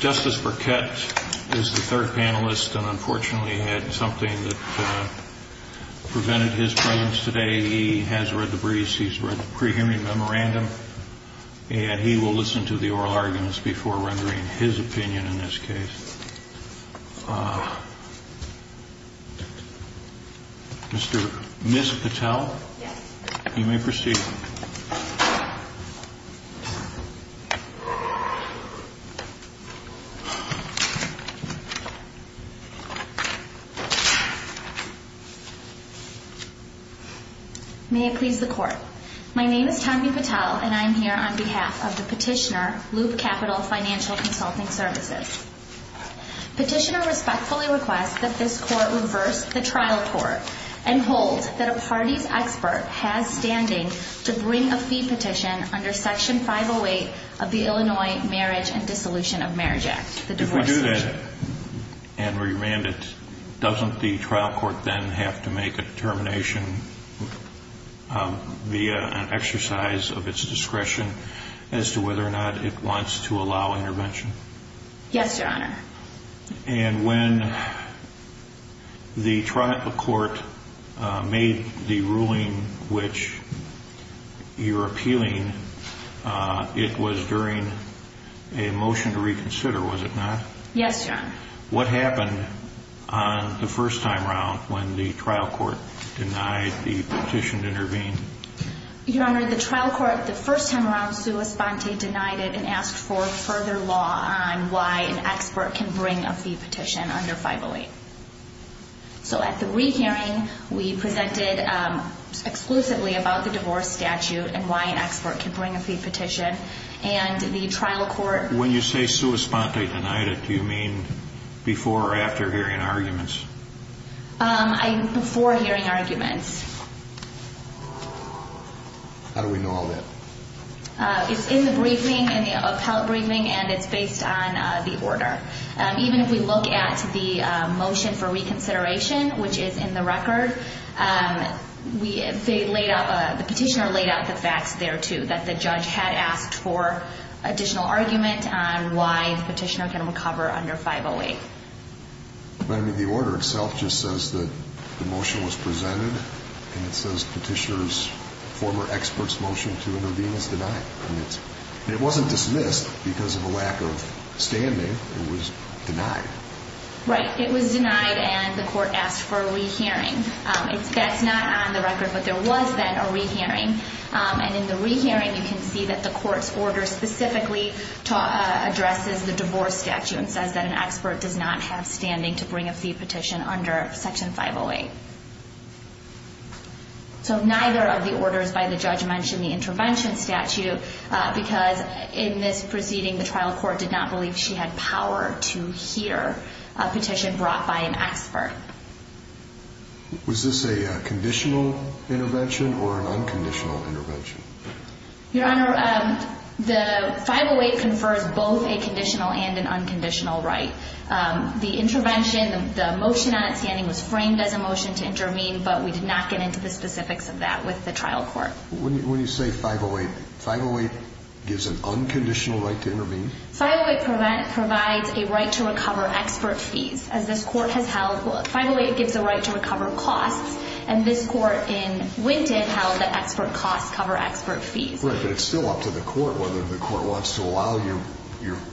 Justice Burkett is the third panelist and unfortunately had something that prevented his presence today. He has read the briefs, he's read the pre-hearing memorandum, and he will listen to the oral arguments before rendering his opinion in this case. Mr. Patel, you may proceed. May it please the Court. My name is Tanvi Patel and I am here on behalf of the petitioner of Loop Capital Financial Consulting Services. Petitioner respectfully requests that this Court reverse the trial tort and hold that a party's expert has standing to bring a fee petition under Section 508 of the Illinois Marriage and Dissolution of Marriage Act, the divorce petition. If we do that and remand it, doesn't the trial court then have to make a determination via an exercise of its discretion as to whether or not it wants to allow intervention? Yes, Your Honor. And when the trial court made the ruling which you're appealing, it was during a motion to reconsider, was it not? Yes, Your Honor. What happened on the first time around when the trial court denied the petition to intervene? Your Honor, the trial court the first time around, sua sponte, denied it and asked for further law on why an expert can bring a fee petition under 508. So at the rehearing, we presented exclusively about the divorce statute and why an expert can bring a fee petition, and the trial court When you say sua sponte denied it, do you mean before or after hearing arguments? Before hearing arguments. How do we know all that? It's in the briefing, in the appellate briefing, and it's based on the order. Even if we look at the motion for reconsideration, which is in the record, the petitioner laid out the additional argument on why the petitioner can recover under 508. But I mean, the order itself just says that the motion was presented, and it says petitioner's former expert's motion to intervene is denied. It wasn't dismissed because of a lack of standing. It was denied. Right. It was denied, and the court asked for a rehearing. That's not on the record, but there was then a rehearing, and in the rehearing, you can see that the court's order specifically addresses the divorce statute and says that an expert does not have standing to bring a fee petition under section 508. So neither of the orders by the judge mentioned the intervention statute because in this proceeding, the trial court did not believe she had power to hear a petition brought by an expert. Was this a conditional intervention or an unconditional intervention? Your Honor, the 508 confers both a conditional and an unconditional right. The intervention, the motion on it standing was framed as a motion to intervene, but we did not get into the specifics of that with the trial court. When you say 508, 508 gives an unconditional right to intervene? 508 provides a right to recover expert fees, as this court has held. 508 gives a right to recover costs, and this court in Winton held that expert costs cover expert fees. Right, but it's still up to the court whether the court wants to allow your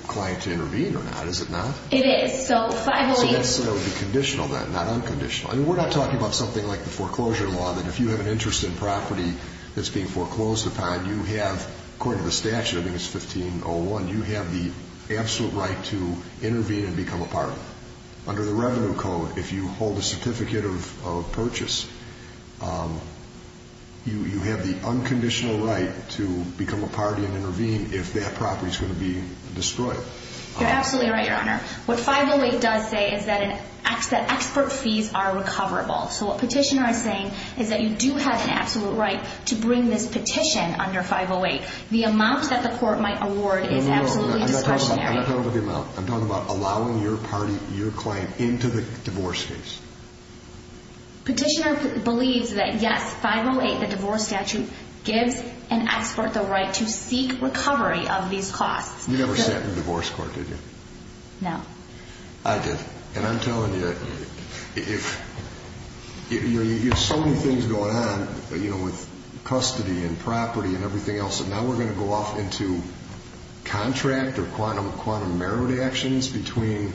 client to intervene or not, is it not? It is. So 508... So that's the conditional then, not unconditional. We're not talking about something like the foreclosure law that if you have an interest in property that's being foreclosed upon, you have, according to the statute, I think it's 1501, you have the absolute right to intervene and become a party. Under the Revenue Code, if you hold a certificate of purchase, you have the unconditional right to become a party and intervene if that property is going to be destroyed. You're absolutely right, Your Honor. What 508 does say is that expert fees are recoverable. So what Petitioner is saying is that you do have an absolute right to bring this petition under 508. The amount that the court might award is absolutely discretionary. I'm not talking about the amount. I'm talking about allowing your client into the divorce case. Petitioner believes that, yes, 508, the divorce statute, gives an expert the right to seek recovery of these costs. You never sat in divorce court, did you? No. I did. And I'm telling you, if... There's so many things going on with custody and property and everything else, and now we're going to go off into contract or quantum merit actions between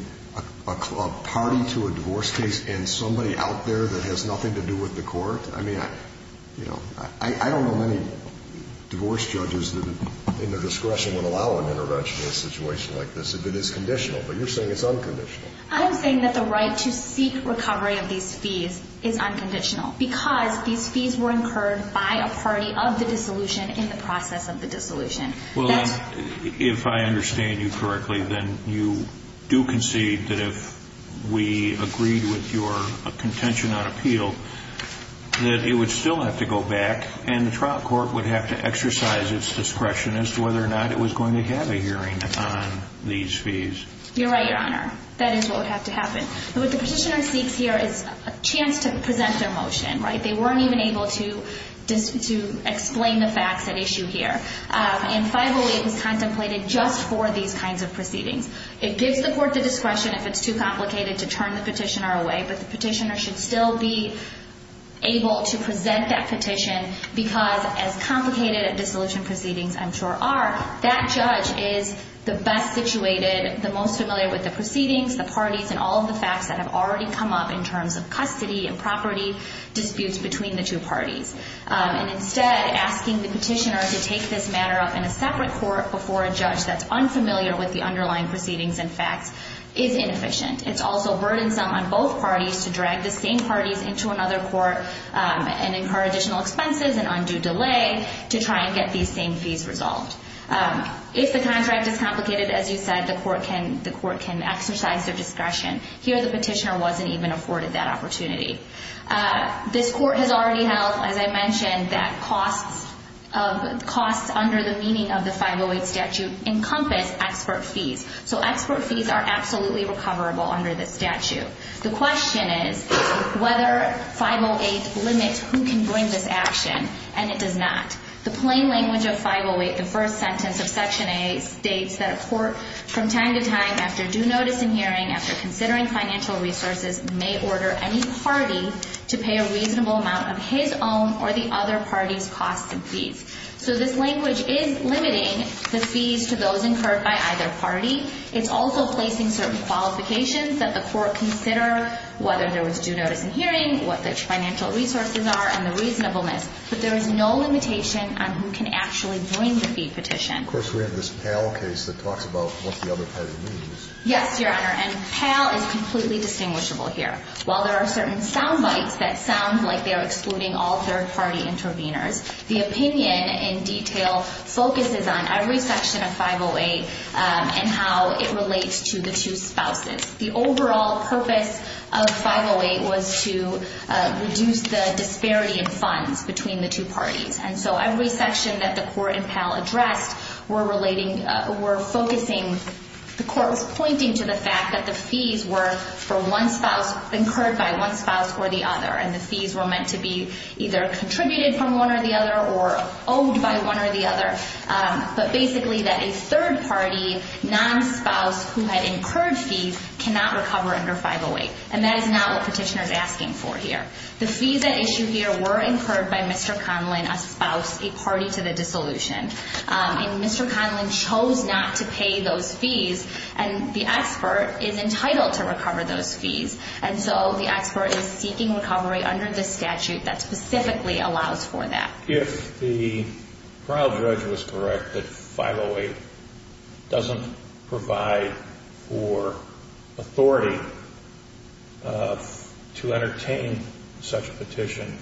a party to a divorce case and somebody out there that has nothing to do with the court? I mean, I don't know many divorce judges in their discretion would allow an intervention in a situation like this if it is conditional, but you're saying it's unconditional. I am saying that the right to seek recovery of these fees is unconditional because these fees were incurred by a party of the dissolution in the process of the dissolution. Well, if I understand you correctly, then you do concede that if we agreed with your contention on appeal, that it would still have to go back and the trial court would have to exercise its discretion as to whether or not it was going to have a hearing on these fees. You're right, Your Honor. That is what would have to happen. But what the petitioner seeks here is a chance to present their motion, right? They weren't even able to explain the facts at issue here. And 508 was contemplated just for these kinds of proceedings. It gives the court the discretion if it's too complicated to turn the petitioner away, but the petitioner should still be able to present that petition because as complicated dissolution proceedings, I'm sure, are, that judge is the best situated, the most familiar with the proceedings, the parties, and all of the facts that have already come up in terms of custody and property disputes between the two parties. And instead, asking the petitioner to take this matter up in a separate court before a judge that's unfamiliar with the underlying proceedings and facts is inefficient. It's also burdensome on both parties to drag the same parties into another court and incur additional expenses and undue delay to try and get these same fees resolved. If the contract is complicated, as you said, the court can exercise their discretion. Here, the petitioner wasn't even afforded that opportunity. This court has already held, as I mentioned, that costs under the meaning of the 508 statute encompass expert fees. So expert fees are absolutely recoverable under this statute. The question is whether 508 limits who can bring this action, and it does not. The plain language of 508, the first sentence of Section A, states that a court, from time to time after due notice and hearing, after considering financial resources, may order any party to pay a reasonable amount of his own or the other party's costs and fees. So this language is limiting the fees to those incurred by either party. It's also placing certain qualifications that the court consider, whether there was due notice and hearing, what the financial resources are, and the reasonableness. But there is no limitation on who can actually bring the fee petition. Of course, we have this Pell case that talks about what the other party means. Yes, Your Honor, and Pell is completely distinguishable here. While there are certain sound bites that sound like they're excluding all third-party interveners, the opinion in detail focuses on every section of 508 and how it relates to the two spouses. The overall purpose of 508 was to reduce the disparity in funds between the two parties. And so every section that the court in Pell addressed were relating, were focusing, the court was pointing to the fact that the fees were for one spouse, incurred by one spouse or the other, and the fees were meant to be either contributed from one or the other or owed by one or the other. But basically that a third-party non-spouse who had incurred fees cannot recover under 508. And that is not what petitioner is asking for here. The fees at issue here were incurred by Mr. Conlin, a spouse, a party to the dissolution. And Mr. Conlin chose not to pay those fees, and the expert is entitled to recover those fees. And so the expert is seeking recovery under the statute that specifically allows for that. If the trial judge was correct that 508 doesn't provide for authority to entertain such a petition,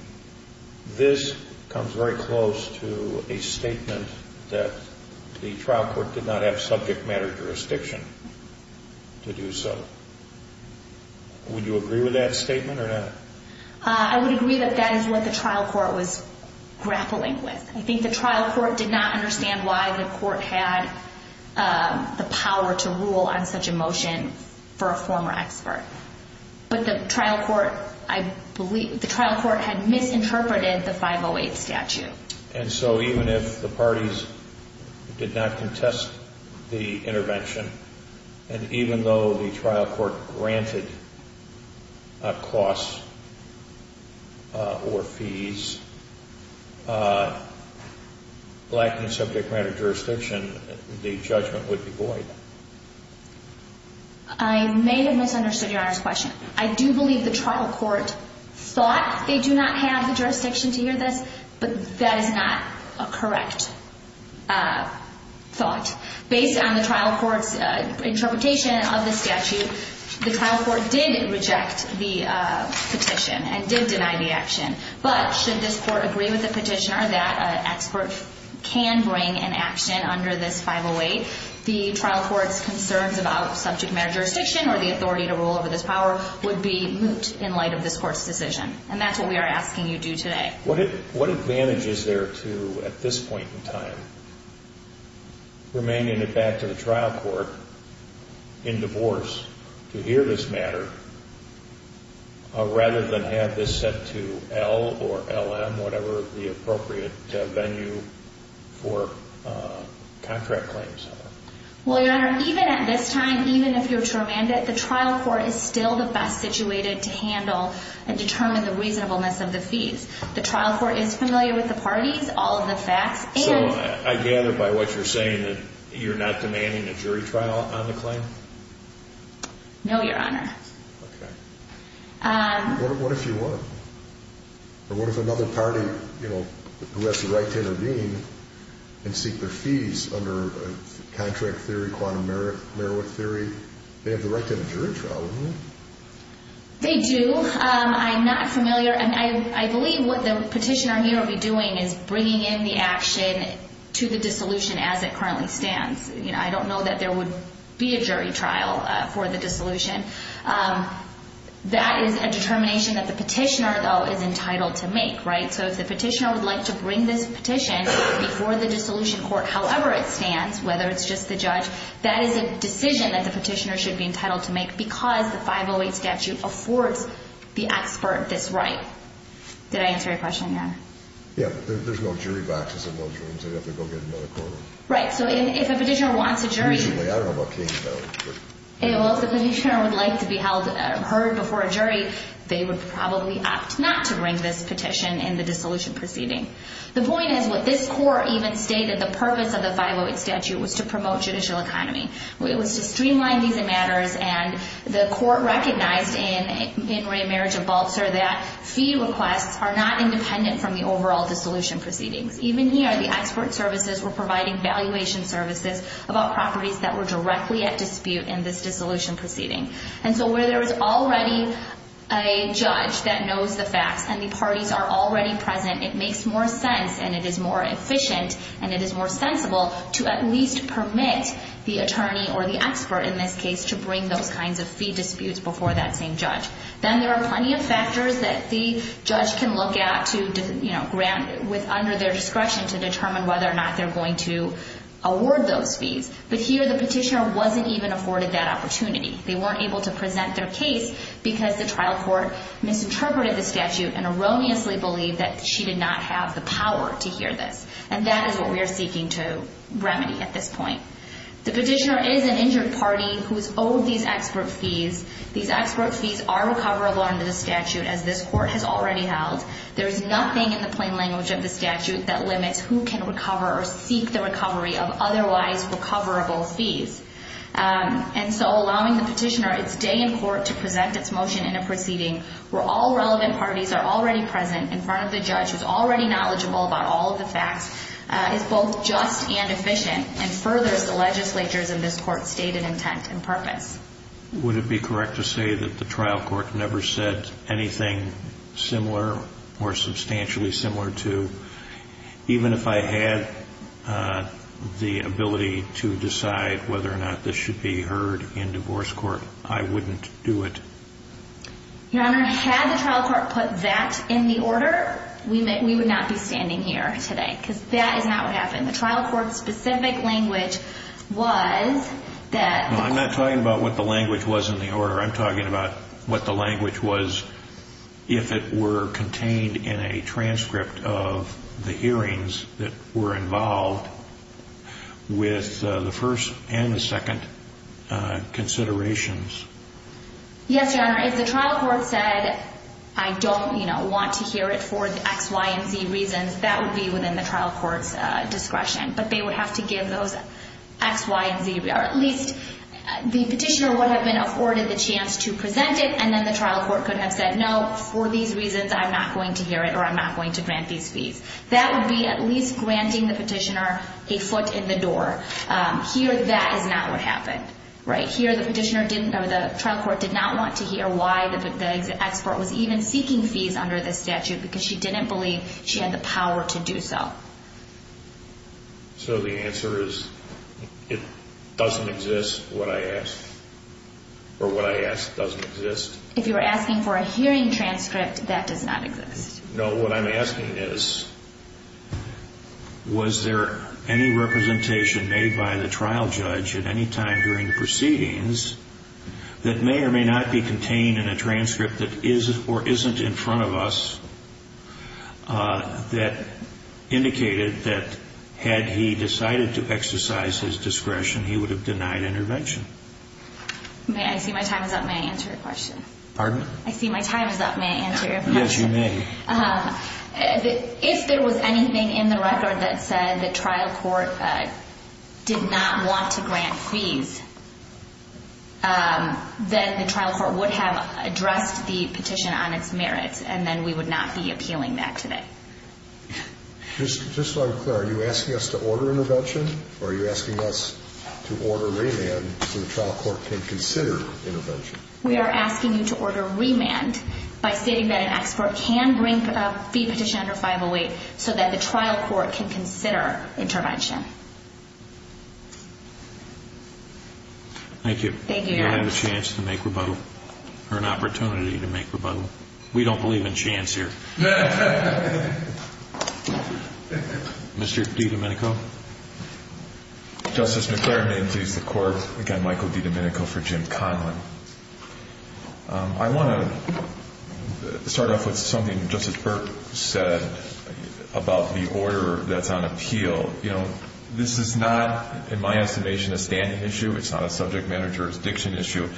this comes very close to a statement that the trial court did not have subject matter jurisdiction to do so. Would you agree with that statement or not? I would agree that that is what the trial court was grappling with. I think the trial court did not understand why the court had the power to rule on such a motion for a former expert. But the trial court, I believe, the trial court had misinterpreted the 508 statute. And so even if the parties did not contest the intervention, and even though the trial court granted costs or fees lacking subject matter jurisdiction, the judgment would be void. I may have misunderstood Your Honor's question. I do believe the trial court thought they do not have the jurisdiction to hear this, but that is not a correct thought. Based on the trial court's interpretation of the statute, the trial court did reject the petition and did deny the action. But should this court agree with the petitioner that an expert can bring an action under this 508, the trial court's concerns about subject matter jurisdiction or the authority to rule over this power would be moot in light of this court's decision. And that's what we are asking you to do today. What advantage is there to, at this point in time, remanding it back to the trial court in divorce to hear this matter, rather than have this set to L or LM, whatever the appropriate venue for contract claims are? Well, Your Honor, even at this time, even if you're to remand it, the trial court is still the best situated to handle and determine the reasonableness of the fees. The trial court is familiar with the parties, all of the facts, and... So I gather by what you're saying that you're not demanding a jury trial on the claim? No, Your Honor. Okay. What if you were? Or what if another party, you know, who has the right to intervene and seek their fees under contract theory, quantum merit theory, they have the right to have a jury trial, wouldn't they? They do. I'm not familiar, and I believe what the petitioner here will be doing is bringing in the action to the dissolution as it currently stands. You know, I don't know that there would be a jury trial for the dissolution. That is a determination that the petitioner, though, is entitled to make, right? So if the petitioner would like to bring this petition before the dissolution court, however it stands, whether it's just the judge, that is a decision that the petitioner should be entitled to make because the 508 statute affords the expert this right. Did I answer your question, Your Honor? Yeah. There's no jury boxes in those rooms. They'd have to go get another court order. Right. So if a petitioner wants a jury. I don't know what case that was. Well, if the petitioner would like to be heard before a jury, they would probably opt not to bring this petition in the dissolution proceeding. The point is what this court even stated, the purpose of the 508 statute, was to promote judicial economy. It was to streamline these matters, and the court recognized in Ray Marriage of Balzer that fee requests are not independent from the overall dissolution proceedings. Even here, the expert services were providing valuation services about properties that were directly at dispute in this dissolution proceeding. And so where there is already a judge that knows the facts, and the parties are already present, it makes more sense, and it is more efficient, and it is more sensible to at least permit the attorney or the expert in this case to bring those kinds of fee disputes before that same judge. Then there are plenty of factors that the judge can look at under their discretion to determine whether or not they're going to award those fees. But here, the petitioner wasn't even afforded that opportunity. They weren't able to present their case because the trial court misinterpreted the statute and erroneously believed that she did not have the power to hear this. And that is what we are seeking to remedy at this point. The petitioner is an injured party who is owed these expert fees. These expert fees are recoverable under the statute, as this court has already held. There is nothing in the plain language of the statute that limits who can recover or seek the recovery of otherwise recoverable fees. And so allowing the petitioner its day in court to present its motion in a proceeding where all relevant parties are already present in front of the judge who is already knowledgeable about all of the facts is both just and efficient, and furthers the legislature's, in this court, stated intent and purpose. Would it be correct to say that the trial court never said anything similar or substantially similar to, even if I had the ability to decide whether or not this should be heard in divorce court, I wouldn't do it? Your Honor, had the trial court put that in the order, we would not be standing here today because that is not what happened. The trial court's specific language was that the court I'm talking about what the language was if it were contained in a transcript of the hearings that were involved with the first and the second considerations. Yes, Your Honor. If the trial court said, I don't want to hear it for the X, Y, and Z reasons, that would be within the trial court's discretion. But they would have to give those X, Y, and Z reasons. Or at least the petitioner would have been afforded the chance to present it, and then the trial court could have said, no, for these reasons, I'm not going to hear it or I'm not going to grant these fees. That would be at least granting the petitioner a foot in the door. Here, that is not what happened. Here, the trial court did not want to hear why the expert was even seeking fees under this statute because she didn't believe she had the power to do so. So the answer is, it doesn't exist, what I asked. Or what I asked doesn't exist. If you were asking for a hearing transcript, that does not exist. No, what I'm asking is, was there any representation made by the trial judge at any time during the proceedings that may or may not be contained in a transcript that is or isn't in front of us that indicated that had he decided to exercise his discretion, he would have denied intervention? May I see my time is up? May I answer your question? Pardon? I see my time is up. May I answer your question? Yes, you may. If there was anything in the record that said the trial court did not want to grant fees, then the trial court would have addressed the petition on its merits, and then we would not be appealing that today. Just so I'm clear, are you asking us to order intervention, or are you asking us to order remand so the trial court can consider intervention? We are asking you to order remand by stating that an expert can bring a fee petition under 508 so that the trial court can consider intervention. Thank you. Thank you, Your Honor. We don't have a chance to make rebuttal, or an opportunity to make rebuttal. We don't believe in chance here. Mr. DiDomenico? Justice McClaren, name please, the court. Again, Michael DiDomenico for Jim Conlin. I want to start off with something Justice Burke said about the order that's on appeal. This is not, in my estimation, a standing issue. It's not a subject manager's diction issue.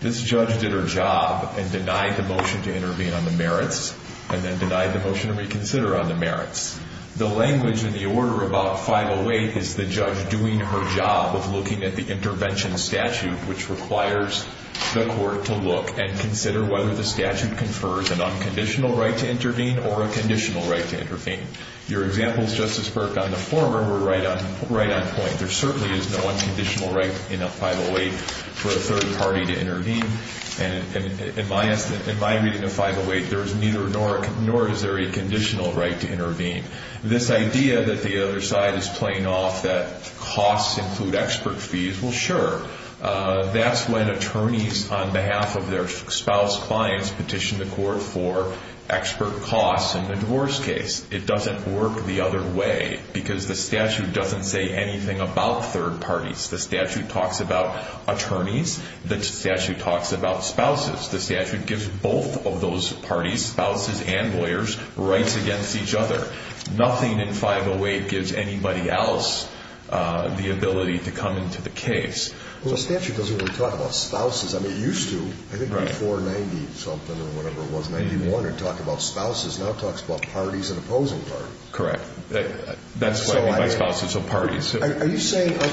This judge did her job and denied the motion to intervene on the merits and then denied the motion to reconsider on the merits. The language in the order about 508 is the judge doing her job of looking at the intervention statute, which requires the court to look and consider whether the statute confers an unconditional right to intervene or a conditional right to intervene. Your examples, Justice Burke, on the former were right on point. There certainly is no unconditional right in a 508 for a third party to intervene. In my reading of 508, there is neither, nor is there a conditional right to intervene. This idea that the other side is playing off that costs include expert fees, well, sure. That's when attorneys, on behalf of their spouse clients, petition the court for expert costs in the divorce case. It doesn't work the other way because the statute doesn't say anything about third parties. The statute talks about attorneys. The statute talks about spouses. The statute gives both of those parties, spouses and lawyers, rights against each other. Nothing in 508 gives anybody else the ability to come into the case. Well, the statute doesn't really talk about spouses. I mean, it used to, I think before 90-something or whatever it was, in 1991 it talked about spouses. Now it talks about parties and opposing parties. Correct. That's what I mean by spouses or parties. Are you saying, I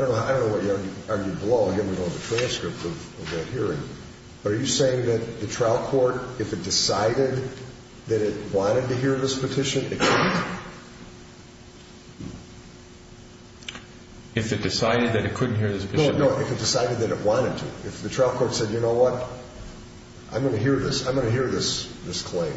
don't know what you argued below. Again, we don't have a transcript of that hearing. But are you saying that the trial court, if it decided that it wanted to hear this petition, it couldn't? If it decided that it couldn't hear this petition? No, no, if it decided that it wanted to. If the trial court said, you know what, I'm going to hear this, I'm going to hear this claim.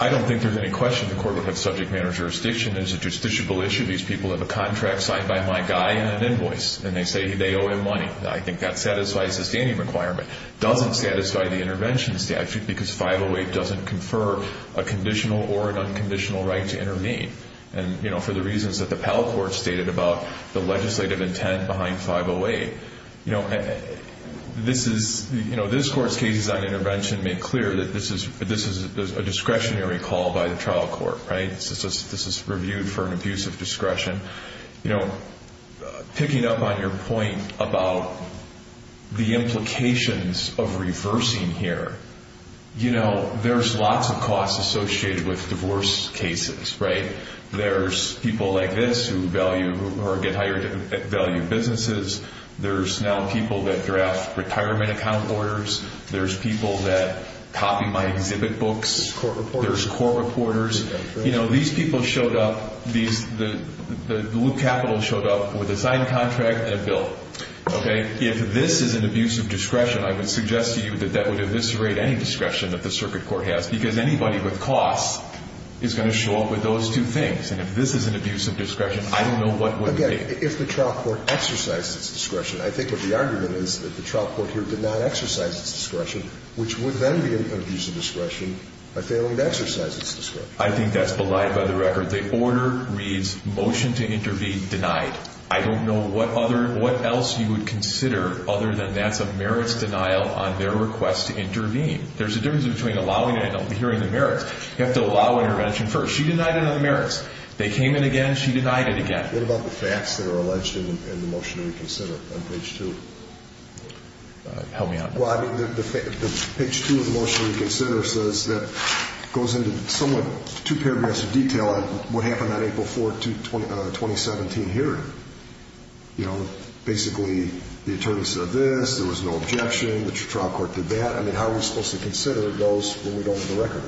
I don't think there's any question the court would have subject matter jurisdiction. It's a justiciable issue. These people have a contract signed by my guy and an invoice. And they say they owe him money. I think that satisfies the standing requirement. It doesn't satisfy the intervention statute because 508 doesn't confer a conditional or an unconditional right to intervene. And for the reasons that the Pell Court stated about the legislative intent behind 508. This court's cases on intervention make clear that this is a discretionary call by the trial court. This is reviewed for an abuse of discretion. Picking up on your point about the implications of reversing here. You know, there's lots of costs associated with divorce cases, right? There's people like this who get hired to value businesses. There's now people that draft retirement account orders. There's people that copy my exhibit books. There's court reporters. You know, these people showed up, the blue capital showed up with a signed contract and a bill. Okay? If this is an abuse of discretion, I would suggest to you that that would eviscerate any discretion that the circuit court has. Because anybody with costs is going to show up with those two things. And if this is an abuse of discretion, I don't know what would be. Again, if the trial court exercised its discretion, I think what the argument is that the trial court here did not exercise its discretion. Which would then be an abuse of discretion by failing to exercise its discretion. I think that's belied by the record. The order reads, motion to intervene denied. I don't know what else you would consider other than that's a merits denial on their request to intervene. There's a difference between allowing it and hearing the merits. You have to allow intervention first. She denied it on the merits. They came in again. She denied it again. What about the facts that are alleged in the motion to reconsider on page 2? Help me out. Well, I mean, the page 2 of the motion to reconsider says that goes into somewhat two paragraphs of detail on what happened on April 4, 2017 hearing. You know, basically, the attorney said this. There was no objection. The trial court did that. I mean, how are we supposed to consider those when we don't have the record?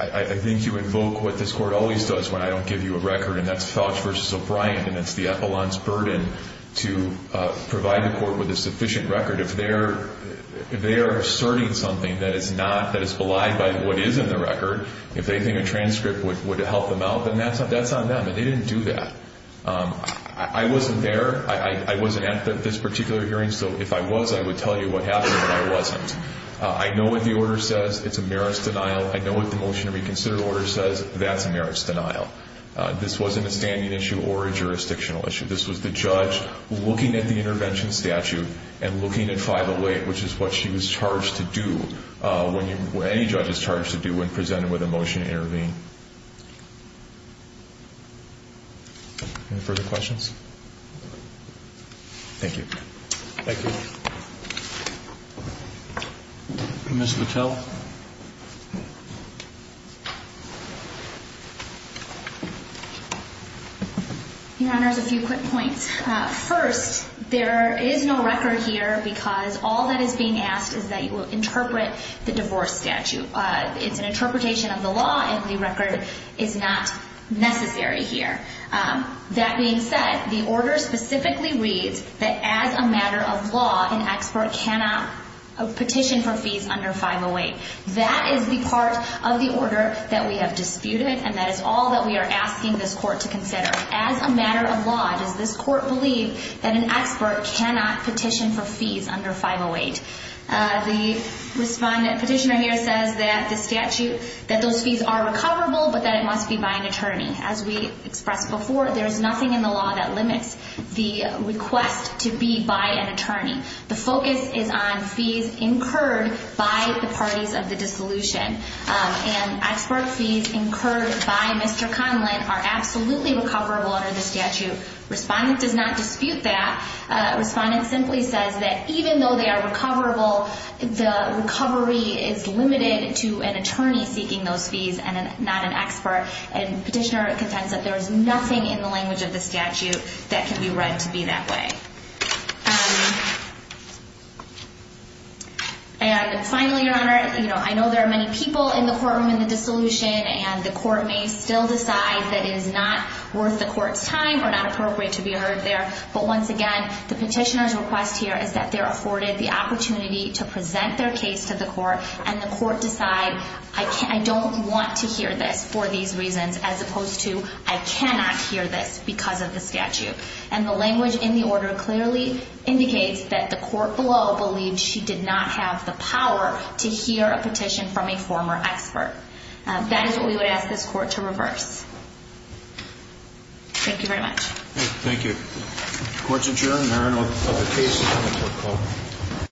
I think you invoke what this court always does when I don't give you a record. And that's Felch v. O'Brien. And that's the epaulant's burden to provide the court with a sufficient record. If they are asserting something that is not, that is belied by what is in the record, if they think a transcript would help them out, then that's on them. And they didn't do that. I wasn't there. I wasn't at this particular hearing. So if I was, I would tell you what happened. But I wasn't. I know what the order says. It's a merits denial. I know what the motion to reconsider order says. That's a merits denial. This wasn't a standing issue or a jurisdictional issue. This was the judge looking at the intervention statute and looking at 508, which is what she was charged to do, any judge is charged to do when presented with a motion to intervene. Any further questions? Thank you. Thank you. Ms. Littell. Your Honor, there's a few quick points. First, there is no record here because all that is being asked is that you will interpret the divorce statute. It's an interpretation of the law, and the record is not necessary here. That being said, the order specifically reads that as a matter of law, an expert cannot petition for fees under 508. That is the part of the order that we have disputed, and that is all that we are asking this court to consider. As a matter of law, does this court believe that an expert cannot petition for fees under 508? The respondent petitioner here says that the statute, that those fees are recoverable, but that it must be by an attorney. As we expressed before, there is nothing in the law that limits the request to be by an attorney. The focus is on fees incurred by the parties of the dissolution. And expert fees incurred by Mr. Conlin are absolutely recoverable under the statute. Respondent does not dispute that. Respondent simply says that even though they are recoverable, the recovery is limited to an attorney seeking those fees and not an expert. And petitioner contends that there is nothing in the language of the statute that can be read to be that way. And finally, Your Honor, I know there are many people in the courtroom in the dissolution, and the court may still decide that it is not worth the court's time or not appropriate to be heard there. But once again, the petitioner's request here is that they are afforded the opportunity to present their case to the court, and the court decide, I don't want to hear this for these reasons, as opposed to, I cannot hear this because of the statute. And the language in the order clearly indicates that the court below believed she did not have the power to hear a petition from a former expert. That is what we would ask this court to reverse. Thank you very much. Thank you. Court's adjourned. There are no other cases on the court call.